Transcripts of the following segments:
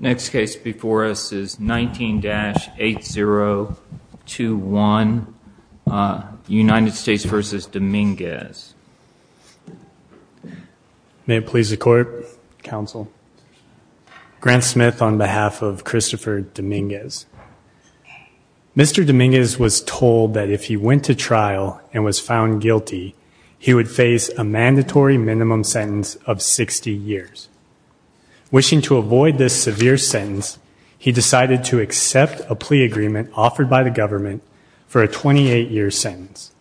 Next case before us is 19-8021 United States v. Dominguez. May it please the court, counsel. Grant Smith on behalf of Christopher Dominguez. Mr. Dominguez was told that if he went to trial and was found guilty he would face a mandatory minimum sentence of 60 years. Wishing to avoid this severe sentence, he decided to accept a plea agreement offered by the government for a 28-year sentence.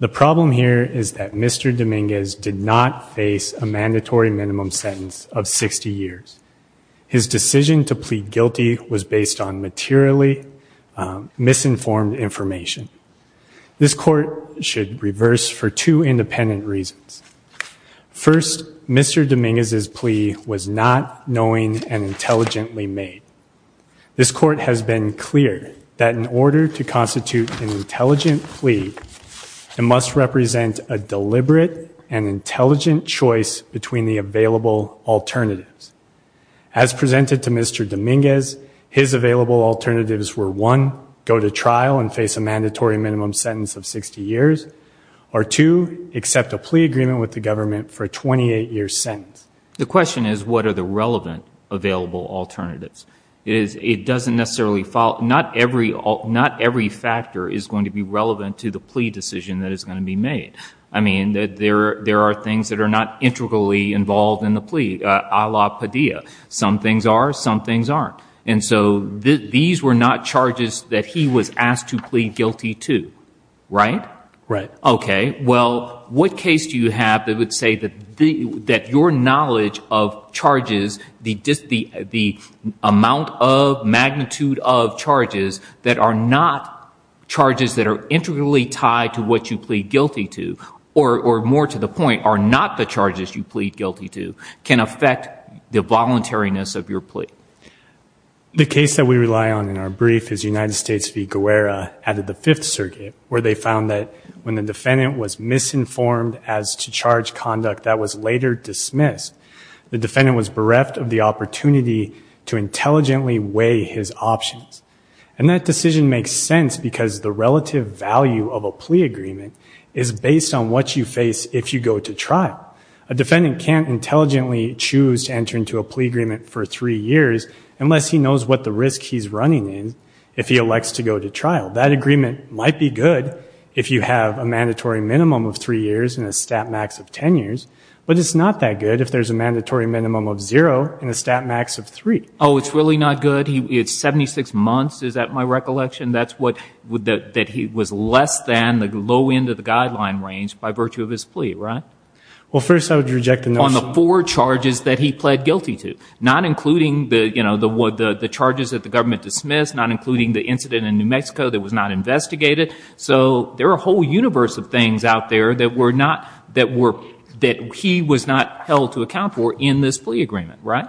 The problem here is that Mr. Dominguez did not face a mandatory minimum sentence of 60 years. His decision to plead guilty was based on materially misinformed information. This court should reverse for two independent reasons. First, Mr. Dominguez's plea was not knowing and intelligently made. This court has been clear that in order to constitute an intelligent plea, it must represent a deliberate and intelligent choice between the available alternatives. As presented to Mr. Dominguez, his available alternatives were one, go to trial and face a mandatory minimum sentence of 60 years, or two, accept a plea agreement with the government for a 28-year sentence. The question is what are the relevant available alternatives? It doesn't necessarily follow, not every factor is going to be relevant to the plea decision that is going to be made. I mean, there are things that are not integrally involved in the plea, a la Padilla. Some things are, some things aren't. And so these were not to plead guilty to, right? Right. Okay. Well, what case do you have that would say that your knowledge of charges, the amount of magnitude of charges that are not charges that are integrally tied to what you plead guilty to, or more to the point, are not the charges you plead guilty to, can affect the voluntariness of your plea? The case that we rely on in our brief is United States v. Aguilera at the Fifth Circuit, where they found that when the defendant was misinformed as to charge conduct that was later dismissed, the defendant was bereft of the opportunity to intelligently weigh his options. And that decision makes sense because the relative value of a plea agreement is based on what you face if you go to trial. A defendant can't intelligently choose to enter into a plea agreement for three years unless he knows what the trial. That agreement might be good if you have a mandatory minimum of three years and a stat max of ten years, but it's not that good if there's a mandatory minimum of zero and a stat max of three. Oh, it's really not good? It's 76 months? Is that my recollection? That's what, that he was less than the low end of the guideline range by virtue of his plea, right? Well, first I would reject the notion... On the four charges that he pled guilty to, not including the, you know, the charges that the government dismissed, not including the Mexico that was not investigated. So there are a whole universe of things out there that were not, that were, that he was not held to account for in this plea agreement, right?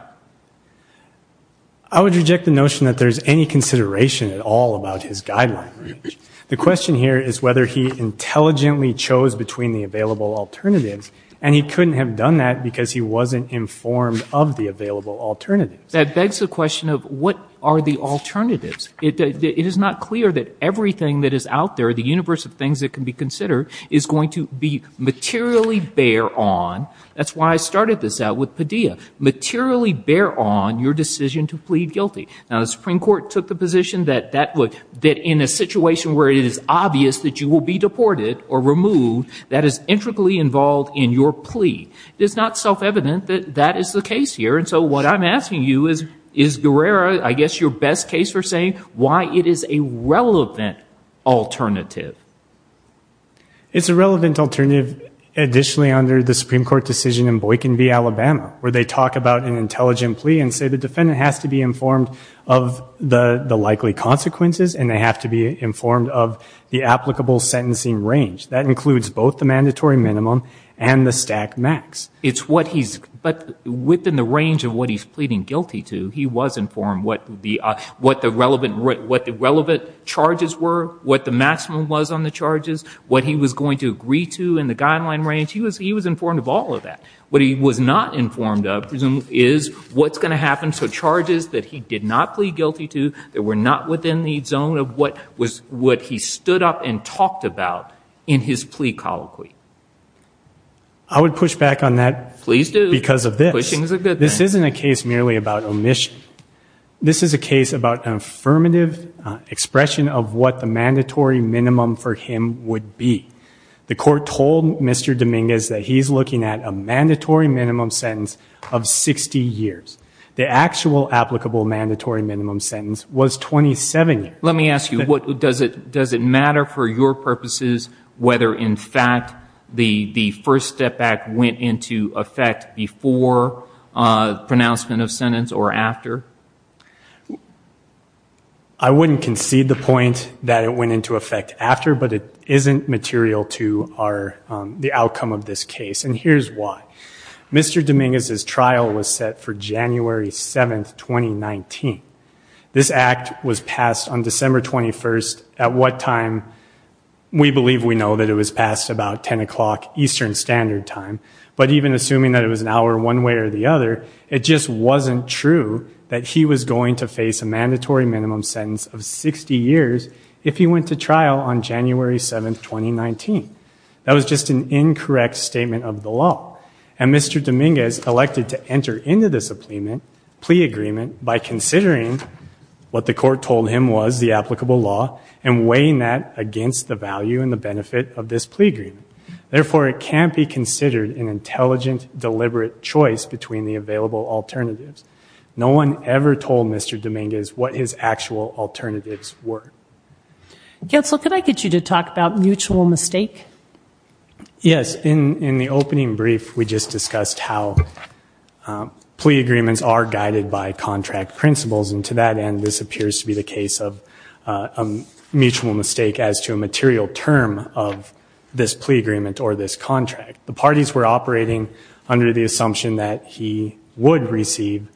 I would reject the notion that there's any consideration at all about his guideline range. The question here is whether he intelligently chose between the available alternatives, and he couldn't have done that because he wasn't informed of the available alternatives. That begs the question of what are the alternatives? It is not clear that everything that is out there, the universe of things that can be considered, is going to be materially bear on, that's why I started this out with Padilla, materially bear on your decision to plead guilty. Now the Supreme Court took the position that that would, that in a situation where it is obvious that you will be deported or removed, that is intricately involved in your plea. It's not self-evident that that is the case here, and so what I'm asking you is, is Guerrero, I guess, your best case for saying why it is a relevant alternative? It's a relevant alternative additionally under the Supreme Court decision in Boykin v. Alabama, where they talk about an intelligent plea and say the defendant has to be informed of the the likely consequences, and they have to be informed of the applicable sentencing range. That includes both the mandatory minimum and the stack max. It's what he's, but within the range of what he's pleading guilty to, he was informed what the, what the relevant, what the relevant charges were, what the maximum was on the charges, what he was going to agree to in the guideline range. He was, he was informed of all of that. What he was not informed of is what's going to happen, so charges that he did not plead guilty to, that were not within the zone of what was, what he stood up and talked about in his plea colloquy. I would push back on that because of this. This isn't a case merely about omission. This is a case about an affirmative expression of what the mandatory minimum for him would be. The court told Mr. Dominguez that he's looking at a mandatory minimum sentence of 60 years. The actual applicable mandatory minimum sentence was 27 years. Let me ask you, what, does it, does it matter for your purposes whether in fact the, the first step back went into effect before pronouncement of sentence or after? I wouldn't concede the point that it went into effect after, but it isn't material to our, the outcome of this case, and here's why. Mr. Dominguez's trial was set for January 7th, 2019. This act was passed on December 21st, at what time we believe we know that it was passed about 10 o'clock Eastern Standard Time, but even assuming that it was an hour one way or the other, it just wasn't true that he was going to face a mandatory minimum sentence of 60 years if he went to trial on January 7th, 2019. That was just an incorrect statement of the law, and Mr. Dominguez elected to enter into this a plea, plea agreement by considering what the court told him was the applicable law and weighing that against the value and the benefit of this plea agreement. Therefore, it can't be considered an intelligent, deliberate choice between the available alternatives. No one ever told Mr. Dominguez what his actual alternatives were. Counsel, could I get you to talk about mutual mistake? Yes, in, in the opening brief, we just discussed how plea agreements are guided by contract principles, and to that end, this appears to be the case of a mutual mistake as to a material term of this plea agreement or this contract. The parties were operating under the assumption that he would receive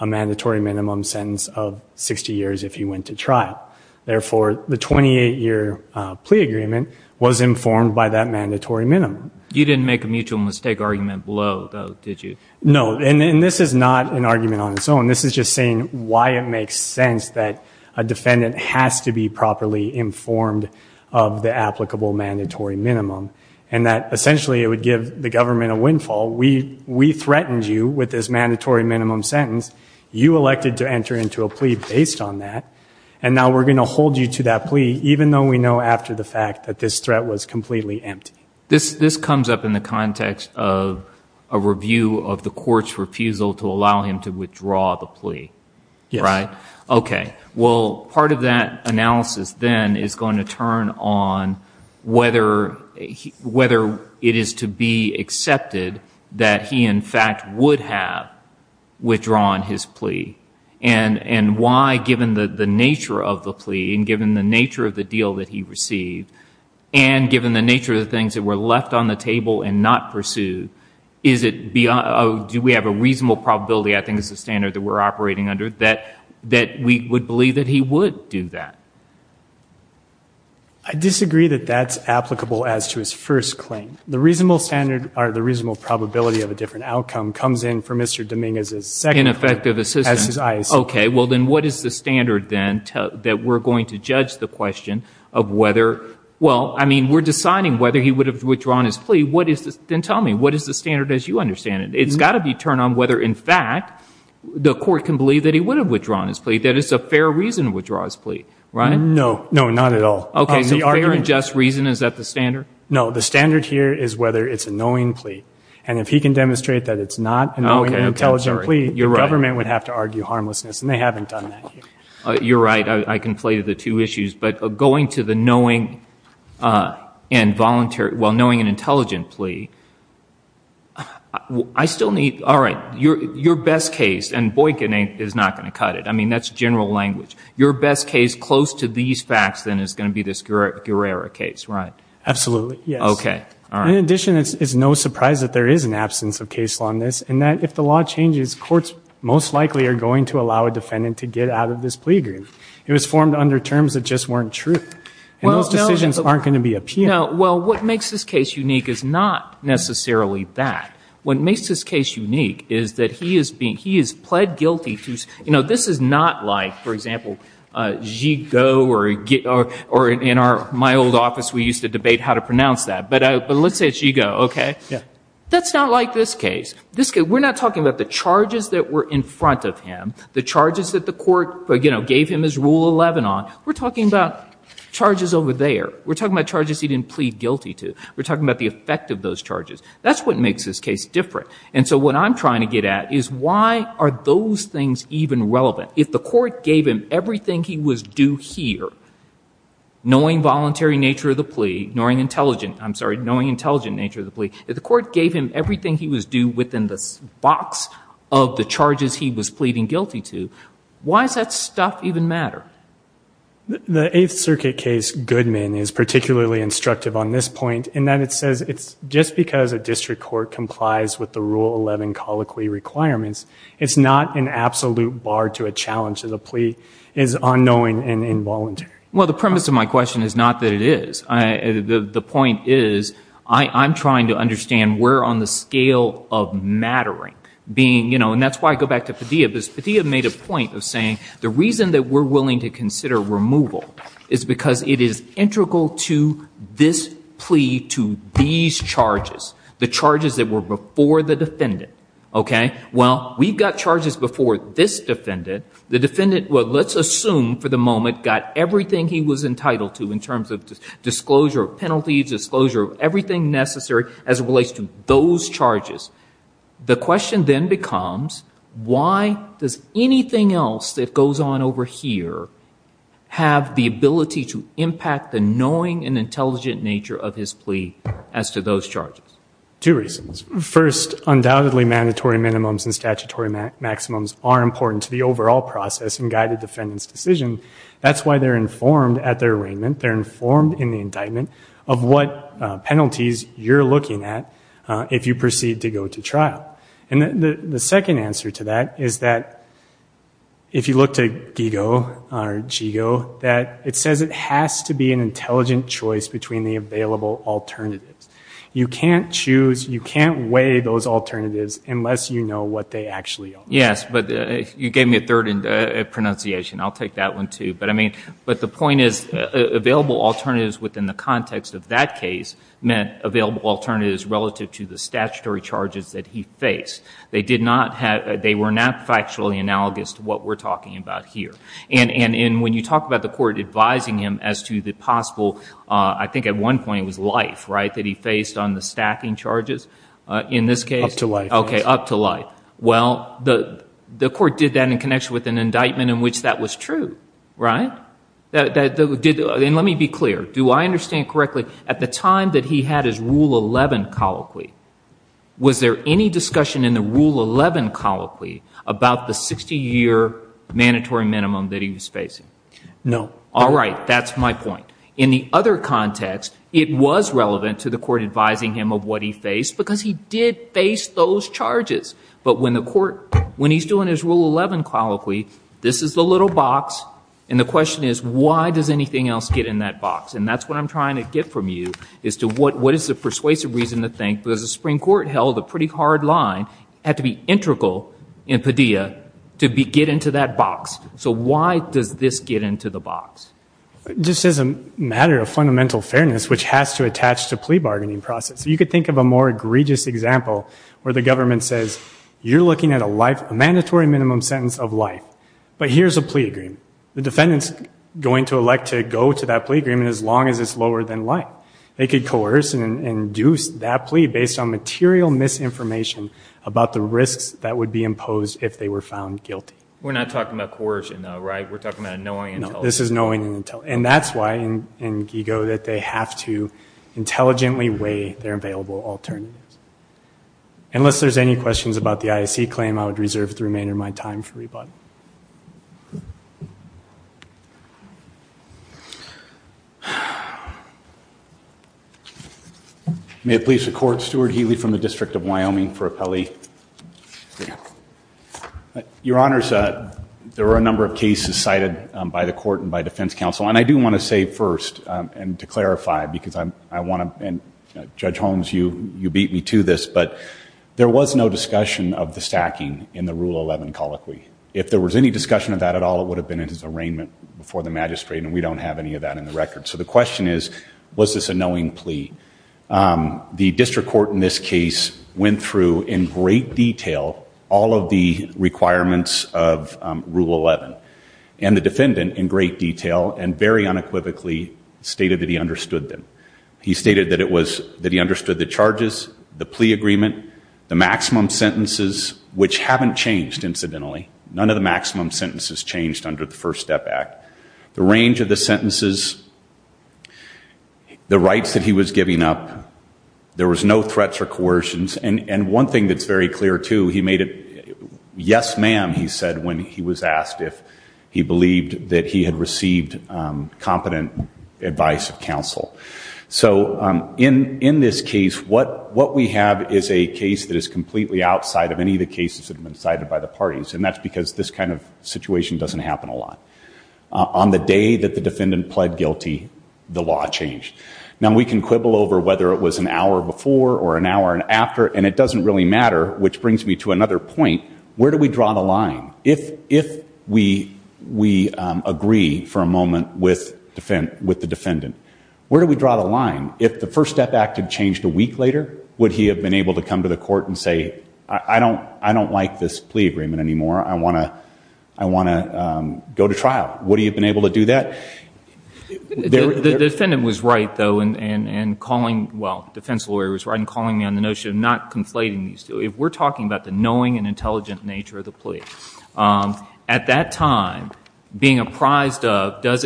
a mandatory minimum sentence of 60 years if he went to trial. Therefore, the 28 year plea agreement was informed by that mandatory minimum. You didn't make a mutual mistake argument below, though, did you? No, and this is not an argument on its own. This is just saying why it makes sense that a defendant has to be properly informed of the applicable mandatory minimum, and that essentially it would give the government a windfall. We, we threatened you with this mandatory minimum sentence. You elected to enter into a plea based on that, and now we're going to hold you to that plea, even though we know after the fact that this threat was completely empty. This, this comes up in the context of a review of the court's refusal to allow him to withdraw the plea, right? Okay, well, part of that analysis, then, is going to turn on whether, whether it is to be accepted that he, in fact, would have withdrawn his plea, and, and why, given the, the nature of the plea, and given the nature of the deal that he received, and given the nature of the things that were left on the table and not pursued, is it, do we have a reasonable probability, I think is the standard that we're operating under, that, that we would believe that he would do that? I disagree that that's applicable as to his first claim. The reasonable standard, or the reasonable probability of a different outcome comes in for Mr. Dominguez's second claim. In effective assistance. As his eyes. Okay, well, then what is the standard, then, that we're going to judge the question of whether, well, I mean, we're deciding whether he would have withdrawn his plea, what is this, then tell me, what is the standard as you understand it? It's got to be turned on whether, in fact, the court can believe that he would have withdrawn his plea, that it's a fair reason to withdraw his plea, right? No, no, not at all. Okay, so fair and just reason, is that the standard? No, the standard here is whether it's a knowing plea, and if he can demonstrate that it's not a knowing and intelligent plea, the government would have to the two issues, but going to the knowing and voluntary, well, knowing and intelligent plea, I still need, all right, your best case, and Boykin is not going to cut it, I mean, that's general language, your best case close to these facts, then, is going to be this Guerrera case, right? Absolutely, yes. Okay, all right. In addition, it's no surprise that there is an absence of case law in this, and that if the law changes, courts most likely are going to allow a defendant to get out of this plea agreement. It was formed under terms that just weren't true, and those decisions aren't going to be appealed. No, well, what makes this case unique is not necessarily that. What makes this case unique is that he is being, he is pled guilty to, you know, this is not like, for example, Zhigo or, or in our, my old office, we used to debate how to pronounce that, but let's say Zhigo, okay? Yeah. That's not like this case. This case, we're not talking about the charges that were in front of him, the charges that the court, you know, gave him his Rule 11 on. We're talking about charges over there. We're talking about charges he didn't plead guilty to. We're talking about the effect of those charges. That's what makes this case different, and so what I'm trying to get at is why are those things even relevant? If the court gave him everything he was due here, knowing voluntary nature of the plea, knowing intelligent, I'm sorry, knowing intelligent nature of the plea, if the court gave him everything he was due within this box of the charges he was pleading guilty to, why is that stuff even matter? The Eighth Circuit case, Goodman, is particularly instructive on this point in that it says it's just because a district court complies with the Rule 11 colloquy requirements, it's not an absolute bar to a challenge to the plea. It's unknowing and involuntary. Well, the premise of my question is not that it is. The point is I'm trying to understand where on the scale of mattering being, you know, and that's why I go back to Padilla because Padilla made a point of saying the reason that we're willing to consider removal is because it is integral to this plea to these charges, the charges that were before the defendant. Okay? Well, we've got charges before this defendant. The defendant, well, let's assume for the moment, got everything he was entitled to in terms of disclosure of penalties, disclosure of everything necessary as it relates to those charges. The question then becomes why does anything else that goes on over here have the ability to impact the knowing and intelligent nature of his plea as to those charges? Two reasons. First, undoubtedly mandatory minimums and statutory maximums are important to the overall process and guide the defendant's decision. That's why they're informed at their arraignment. They're informed in the indictment of what penalties you're looking at if you proceed to go to trial. And the second answer to that is that if you look to GIGO, it says it has to be an intelligent choice between the available alternatives. You can't choose, you can't weigh those alternatives unless you know what they actually are. Yes, but you gave me a third pronunciation. I'll take that one too. But I mean, but the point is available alternatives within the context of that case meant available alternatives relative to the statutory charges that he faced. They did not have, they were not factually analogous to what we're talking about here. And when you talk about the court advising him as to the possible, I think at one point it was life, right, that he faced on the stacking charges. In this case, up to life. Okay, up to life. Well, the court did that in connection with an indictment in which that was true, right? And let me be clear. Do I understand it correctly? At the time that he had his Rule 11 colloquy, was there any discussion in the Rule 11 colloquy about the 60-year mandatory minimum that he was facing? No. All right. That's my point. In the other context, it was relevant to the court advising him of what he faced because he did face those charges. But when the court, when he's doing his Rule 11 colloquy, this is the little box, and the question is why does anything else get in that box? And that's what I'm trying to get from you, is to what is the persuasive reason to think, because the Supreme Court held a pretty hard line, had to be integral in Padilla to get into that box. So why does this get into the box? Just as a matter of fundamental fairness, which has to attach to plea bargaining process. You could think of a more egregious example where the government says, you're looking at a life, a mandatory minimum sentence of life. But here's a plea agreement. The defendant's going to elect to go to that plea agreement as long as it's lower than life. They could coerce and induce that plea based on material misinformation about the risks that would be imposed if they were found guilty. We're not talking about coercion though, right? We're talking about knowing and telling. This is knowing and telling. And that's why in GIGO that they have to intelligently weigh their available alternatives. Unless there's any questions about the IAC claim, I would reserve the remainder of my time for rebuttal. May it please the Court, Stuart Healy from the District of Wyoming for appellee. Your Honors, there were a number of cases cited by the court and by defense counsel. And I do want to say first, and to clarify, because I want to, and Judge Holmes, you beat me to this, but there was no discussion of the stacking in the Rule 11 colloquy. If there was any discussion of that at all, it would have been in his arraignment before the magistrate and we don't have any of that in the record. So the question is, was this a knowing plea? The district court in this case went through in great detail all of the requirements of Rule 11 and the defendant in great detail and very unequivocally stated that he understood them. He stated that it was, that he understood the charges, the plea agreement, the maximum sentences, which haven't changed incidentally. None of the maximum sentences changed under the First Step Act. The range of the sentences, the rights that he was giving up, there was no threats or coercions. And one thing that's very clear too, he made it, yes ma'am he said when he was asked if he believed that he had received competent advice of counsel. So in this case, what we have is a case that is completely outside of any of the cases that have been cited by the parties and that's because this kind of situation doesn't happen a lot. On the day that the defendant pled guilty, the law changed. Now we can quibble over whether it was an hour before or an hour after and it doesn't really matter, which Where do we draw the line? If we agree for a moment with the defendant, where do we draw the line? If the First Step Act had changed a week later, would he have been able to come to the court and say, I don't like this plea agreement anymore. I want to go to trial. Would he have been able to do that? The defendant was right though and calling, well defense lawyer was right in calling me on the notion of not conflating these two. If we're talking about the knowing and intelligent nature of the plea. At that time, being apprised of, is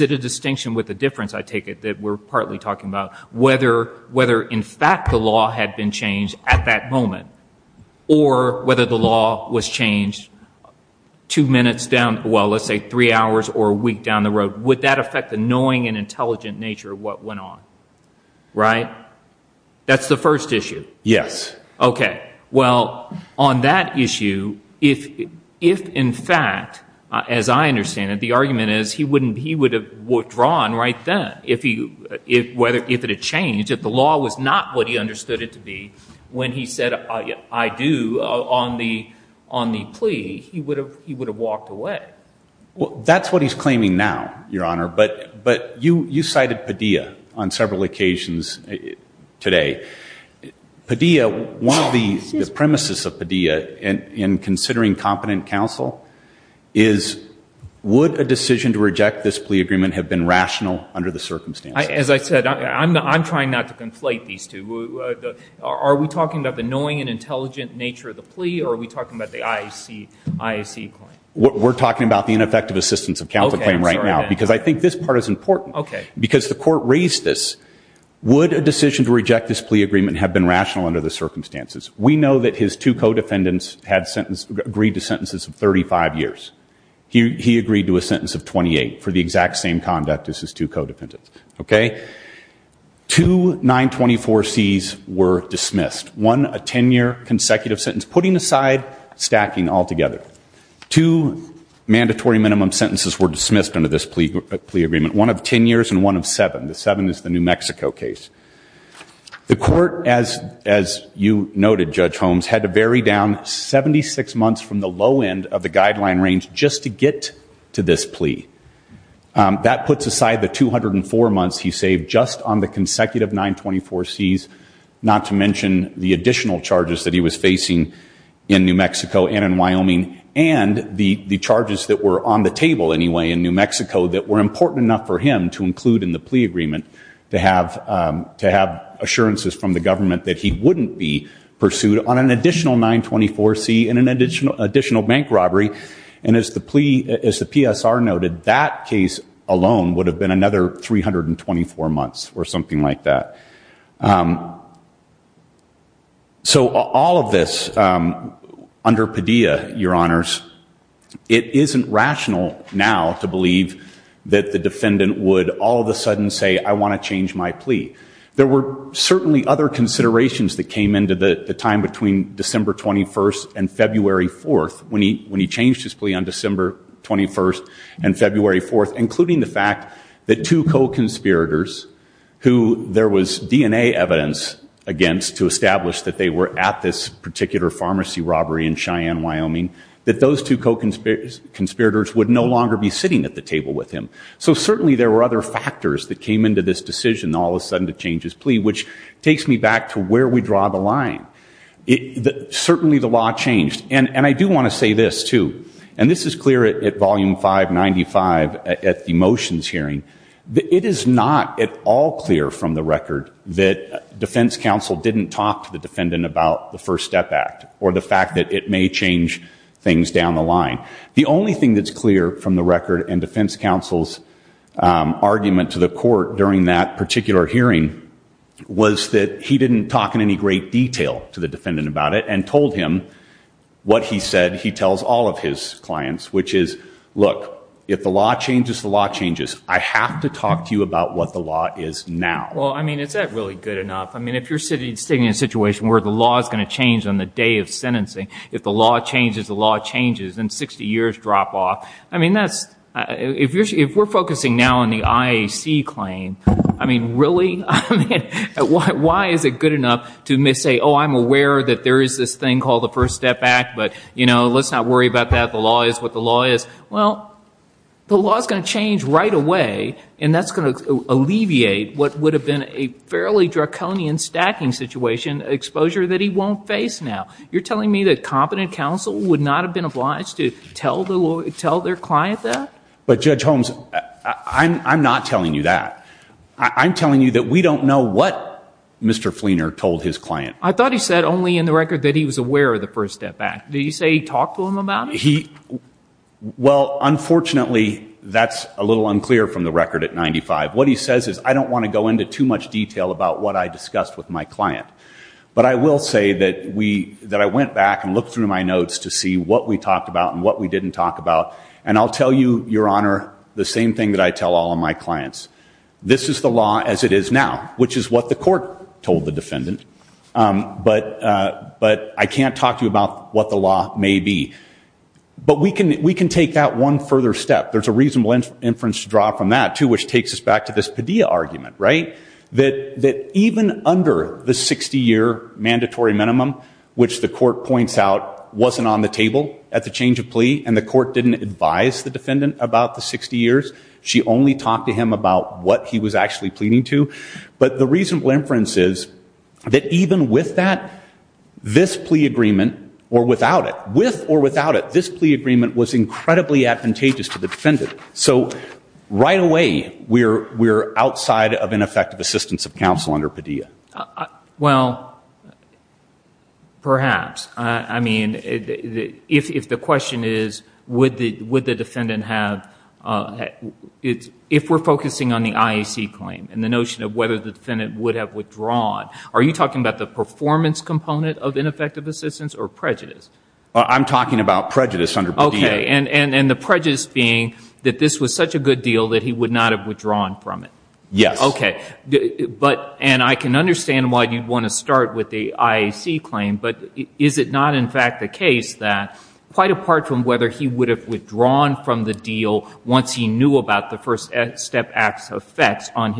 it a distinction with a difference I take it, that we're partly talking about, whether in fact the law had been changed at that moment or whether the law was changed two minutes down, well let's say three hours or a week down the road. Would that affect the knowing and intelligent nature of what went on? Right? That's the first issue. Yes. Okay. Well, on that issue, if in fact, as I understand it, the argument is he would have withdrawn right then. If it had changed, if the law was not what he understood it to be when he said, I do, on the plea, he would have walked away. That's what he's claiming now, Your Honor, but you cited Padilla on several occasions today. Padilla, one of the premises of Padilla in considering competent counsel is, would a decision to reject this plea agreement have been rational under the circumstances? As I said, I'm trying not to conflate these two. Are we talking about the knowing and intelligent nature of the plea or are we talking about the IAC claim? We're talking about the ineffective assistance of counsel claim right now because I think this part is important because the court raised this. Would a decision to reject this plea agreement have been rational under the circumstances? We know that his two co-defendants had sentenced, agreed to sentences of 35 years. He agreed to a sentence of 28 for the exact same conduct as his two co-defendants. Okay? Two 924Cs were dismissed. One, a 10-year consecutive sentence, putting aside stacking altogether. Two mandatory minimum sentences were dismissed under this plea agreement, one of 10 years and one of 7. The 7 is the New Mexico case. The court, as you noted, Judge Holmes, had to vary down 76 months from the low end of the guideline range just to get to this plea. That puts aside the 204 months he saved just on the consecutive 924Cs, not to mention the additional charges that he was facing in New Mexico that were important enough for him to include in the plea agreement to have assurances from the government that he wouldn't be pursued on an additional 924C and an additional bank robbery. And as the PSR noted, that case alone would have been another 324 months or something like that. So all of this under Padilla, Your Honors, it isn't rational now to believe that the defendant would all of a sudden say, I want to change my plea. There were certainly other considerations that came into the time between December 21st and February 4th when he changed his plea on December 21st and February 4th, including the fact that two co-conspirators who there was DNA evidence against to establish that they were at this particular pharmacy robbery in Cheyenne, Wyoming, that those two co-conspirators would no longer be sitting at the table with him. So certainly there were other factors that came into this decision all of a sudden to change his plea, which takes me back to where we draw the line. Certainly the law changed. And I do want to say this, too, and this is clear at Volume 595 at the motions hearing. It is not at all clear from the record that defense counsel didn't talk to the defendant about the First Step Act or the fact that it may change things down the line. The only thing that's clear from the record and defense counsel's argument to the court during that particular hearing was that he didn't talk in any great detail to the defendant about it and told him what he said he tells all of his clients, which is, look, if the law changes, the law changes. I have to talk to you about what the law is now. Well, I mean, is that really good enough? I mean, if you're sitting in a situation where the law is going to change on the day of sentencing, if the law changes, the law changes, and 60 years drop off, I mean, if we're focusing now on the IAC claim, I mean, really? I mean, why is it good enough to say, oh, I'm aware that there is this thing called the First Step Act, but, you know, let's not worry about that. The law is what the law is. Well, the law is going to change right away, and that's going to alleviate what would have been a fairly draconian stacking situation, exposure that he won't face now. You're telling me that competent counsel would not have been obliged to tell their client that? But, Judge Holmes, I'm not telling you that. I'm telling you that we don't know what Mr. Fleener told his client. I thought he said only in the record that he was aware of the First Step Act. Did he say he talked to him about it? He – well, unfortunately, that's a little unclear from the record at 95. What he says is, I don't want to go into too much detail about what I discussed with my client. But I will say that we – that I went back and looked through my notes to see what we talked about and what we didn't talk about. And I'll tell you, Your Honor, the same thing that I tell all of my clients. This is the law as it is now, which is what the court told the defendant. But I can't talk to you about what the law may be. But we can take that one further step. There's a reasonable inference to draw from that, too, which takes us back to this Padilla argument, right? That even under the 60-year mandatory minimum, which the court points out wasn't on the table at the change of plea and the court didn't advise the defendant about the 60 years, she only talked to him about what he was actually pleading to. But the reasonable inference is that even with that, this plea agreement – or without it – with or without it, this plea agreement was incredibly advantageous to the defendant. So right away, we're outside of ineffective assistance of counsel under Padilla. Well, perhaps. I mean, if the question is, would the defendant have – if we're focusing on the IAC claim and the notion of whether the defendant would have withdrawn, are you talking about the performance component of ineffective assistance or prejudice? I'm talking about prejudice under Padilla. And the prejudice being that this was such a good deal that he would not have withdrawn from it. Yes. Okay. But – and I can understand why you'd want to start with the IAC claim, but is it not in fact the case that, quite apart from whether he would have withdrawn from the deal once he knew about the First Step Act's effects on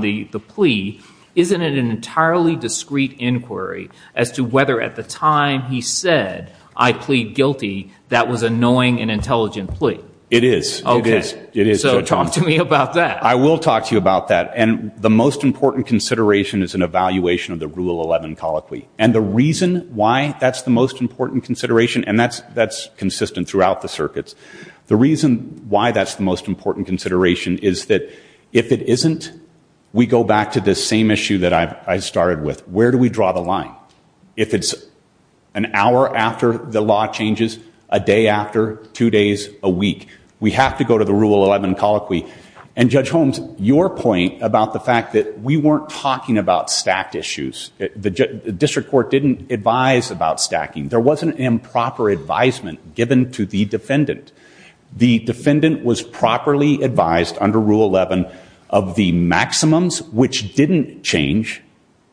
the plea, isn't it an entirely discrete inquiry as to whether at the time he said, I plead guilty, that was a knowing and intelligent plea? It is. It is. Okay. So talk to me about that. I will talk to you about that. And the most important consideration is an evaluation of the Rule 11 colloquy. And the reason why that's the most important consideration – and that's consistent throughout the circuits – the reason why that's the most important consideration is that if it isn't, we go back to the same issue that I started with. Where do we draw the line? If it's an hour after the law changes, a day after, two days, a week. We have to go to the Rule 11 colloquy. And Judge Holmes, your point about the fact that we weren't talking about stacked issues. The district court didn't advise about stacking. There wasn't improper advisement given to the defendant. The defendant was properly advised under Rule 11 of the maximums which didn't change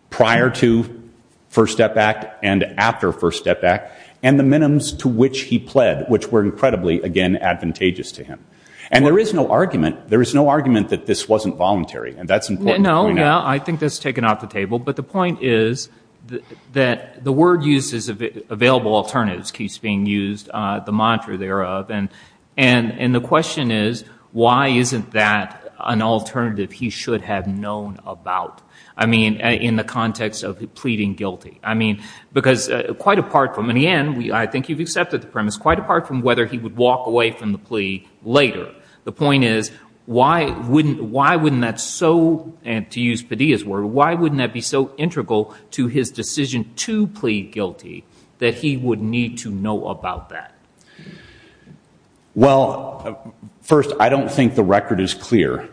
prior to First Step Act and after First Step Act, and the minimums to which he pled, which were incredibly, again, advantageous to him. And there is no argument that this wasn't voluntary. And that's important to point out. No, no. I think that's taken off the table. But the point is that the word used is available alternatives keeps being used, the mantra thereof. And the question is, why isn't that an alternative he should have known about? I mean, in the context of pleading guilty. I mean, because quite apart from – in the end, I think you've accepted the premise – quite apart from whether he would walk away from the plea later. The point is, why wouldn't that so – and to use Padilla's word – why wouldn't that be so integral to his decision to plead guilty that he would need to know about that? Well, first, I don't think the record is clear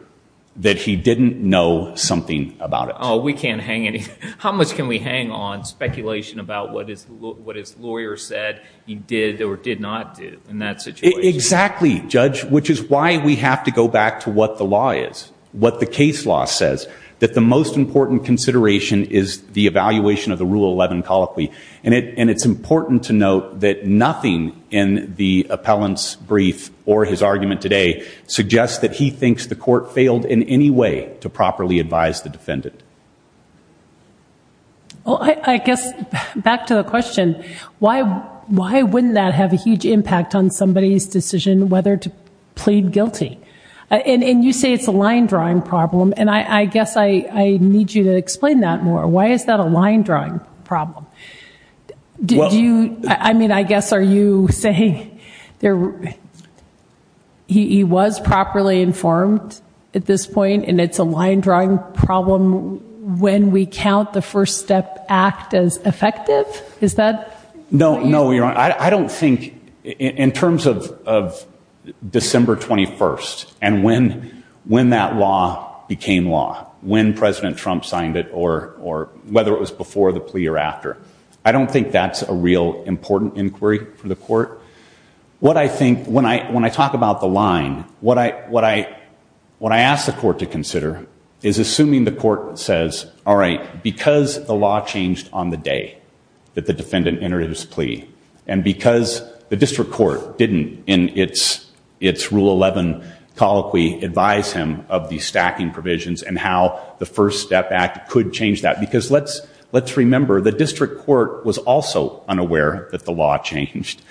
that he didn't know something about it. Oh, we can't hang – how much can we hang on speculation about what his lawyer said he did or did not do in that situation? Exactly, Judge, which is why we have to go back to what the law is, what the case law says, that the most important consideration is the evaluation of the Rule 11 colloquy. And it's important to note that nothing in the appellant's brief or his argument today suggests that he thinks the court failed in any way to properly advise the defendant. Well, I guess, back to the question, why wouldn't that have a huge impact on somebody's I guess I need you to explain that more. Why is that a line-drawing problem? I mean, I guess are you saying there – he was properly informed at this point, and it's a line-drawing problem when we count the first step act as effective? Is that – No, no, Your Honor. I don't think – in terms of December 21st and when that law became law, when President Trump signed it or whether it was before the plea or after, I don't think that's a real important inquiry for the court. What I think – when I talk about the line, what I ask the court to consider is assuming the court says, all right, because the law changed on the day that the defendant entered his plea, and because the district court didn't, in its rule 11 colloquy, advise him of the stacking provisions and how the first step act could change that. Because let's remember, the district court was also unaware that the law changed.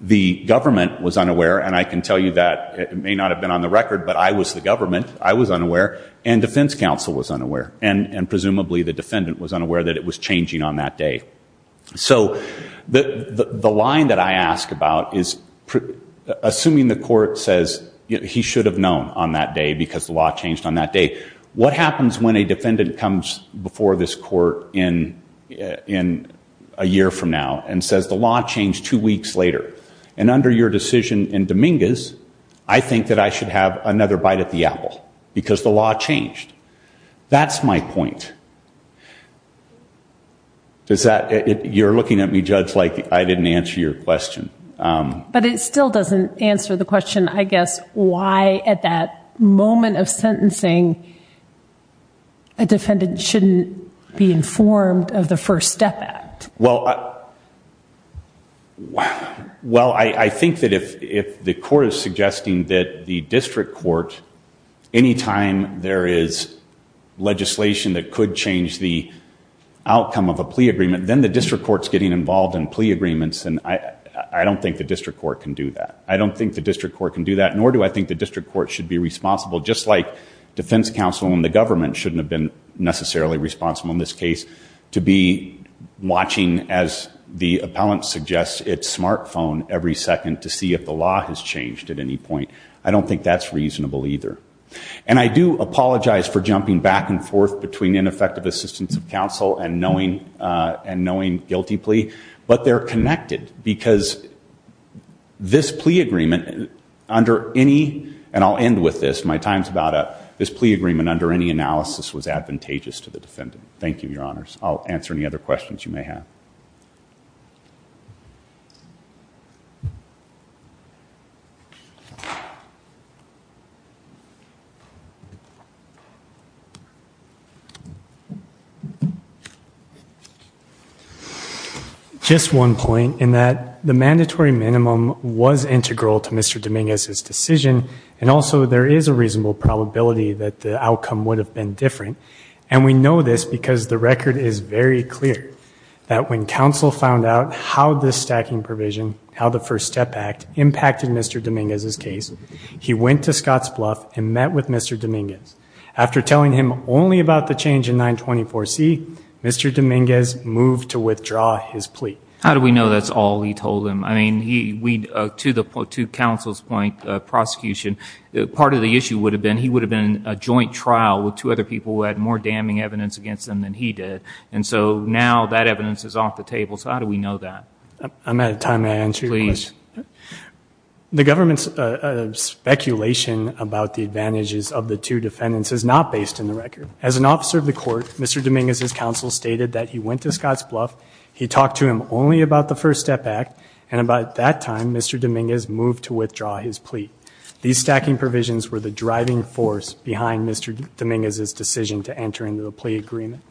The government was unaware, and I can tell you that it may not have been on the record, but I was the government. I was unaware, and defense counsel was unaware, and presumably the defendant was unaware that it was changing on that day. So the line that I ask about is assuming the court says he should have known on that day because the law changed on that day, what happens when a defendant comes before this court in a year from now and says the law changed two weeks later, and under your decision in Dominguez, I think that I should have another bite at the apple because the law changed. That's my point. Does that – you're looking at me, it's like I didn't answer your question. But it still doesn't answer the question, I guess, why at that moment of sentencing, a defendant shouldn't be informed of the first step act? Well, I think that if the court is suggesting that the district court, any time there is legislation that could change the outcome of a plea agreement, then the district court's getting involved in plea agreements, and I don't think the district court can do that. I don't think the district court can do that, nor do I think the district court should be responsible, just like defense counsel and the government shouldn't have been necessarily responsible in this case, to be watching, as the appellant suggests, its smartphone every second to see if the law has changed at any point. I don't think that's reasonable either. And I do apologize for jumping back and forth between ineffective assistance of knowing guilty plea, but they're connected because this plea agreement under any – and I'll end with this, my time's about up – this plea agreement under any analysis was advantageous to the defendant. Thank you, your honors. I'll answer any other questions you may have. Just one point, in that the mandatory minimum was integral to Mr. Dominguez's decision, and also there is a reasonable probability that the outcome would have been different, and we know this because the record is very clear, that when counsel found out how this stacking provision, how the First Step Act impacted Mr. Dominguez's case, he went to Scott's Bluff and met with Mr. Dominguez. After telling him only about the change in 924C, Mr. Dominguez moved to withdraw his plea. How do we know that's all he told him? I mean, he – we – to the – to counsel's point, prosecution, part of the issue would have been he would have been in a joint trial with two other people who had more damning evidence against them than he did, and so now that evidence is off the table, so how do we know that? I'm out of time to answer your question. Please. The government's speculation about the advantages of the two defendants is not based in the record. As an officer of the court, Mr. Dominguez's counsel stated that he went to Scott's Bluff, he talked to him only about the First Step Act, and about that time, Mr. Dominguez moved to withdraw his plea. These stacking provisions were the driving force behind Mr. Dominguez's decision to enter into the plea agreement.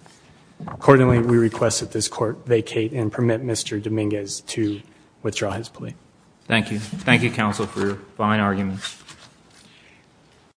Accordingly, we request that this court vacate and permit Mr. Dominguez to withdraw his plea. Thank you. Thank you, counsel, for your fine argument.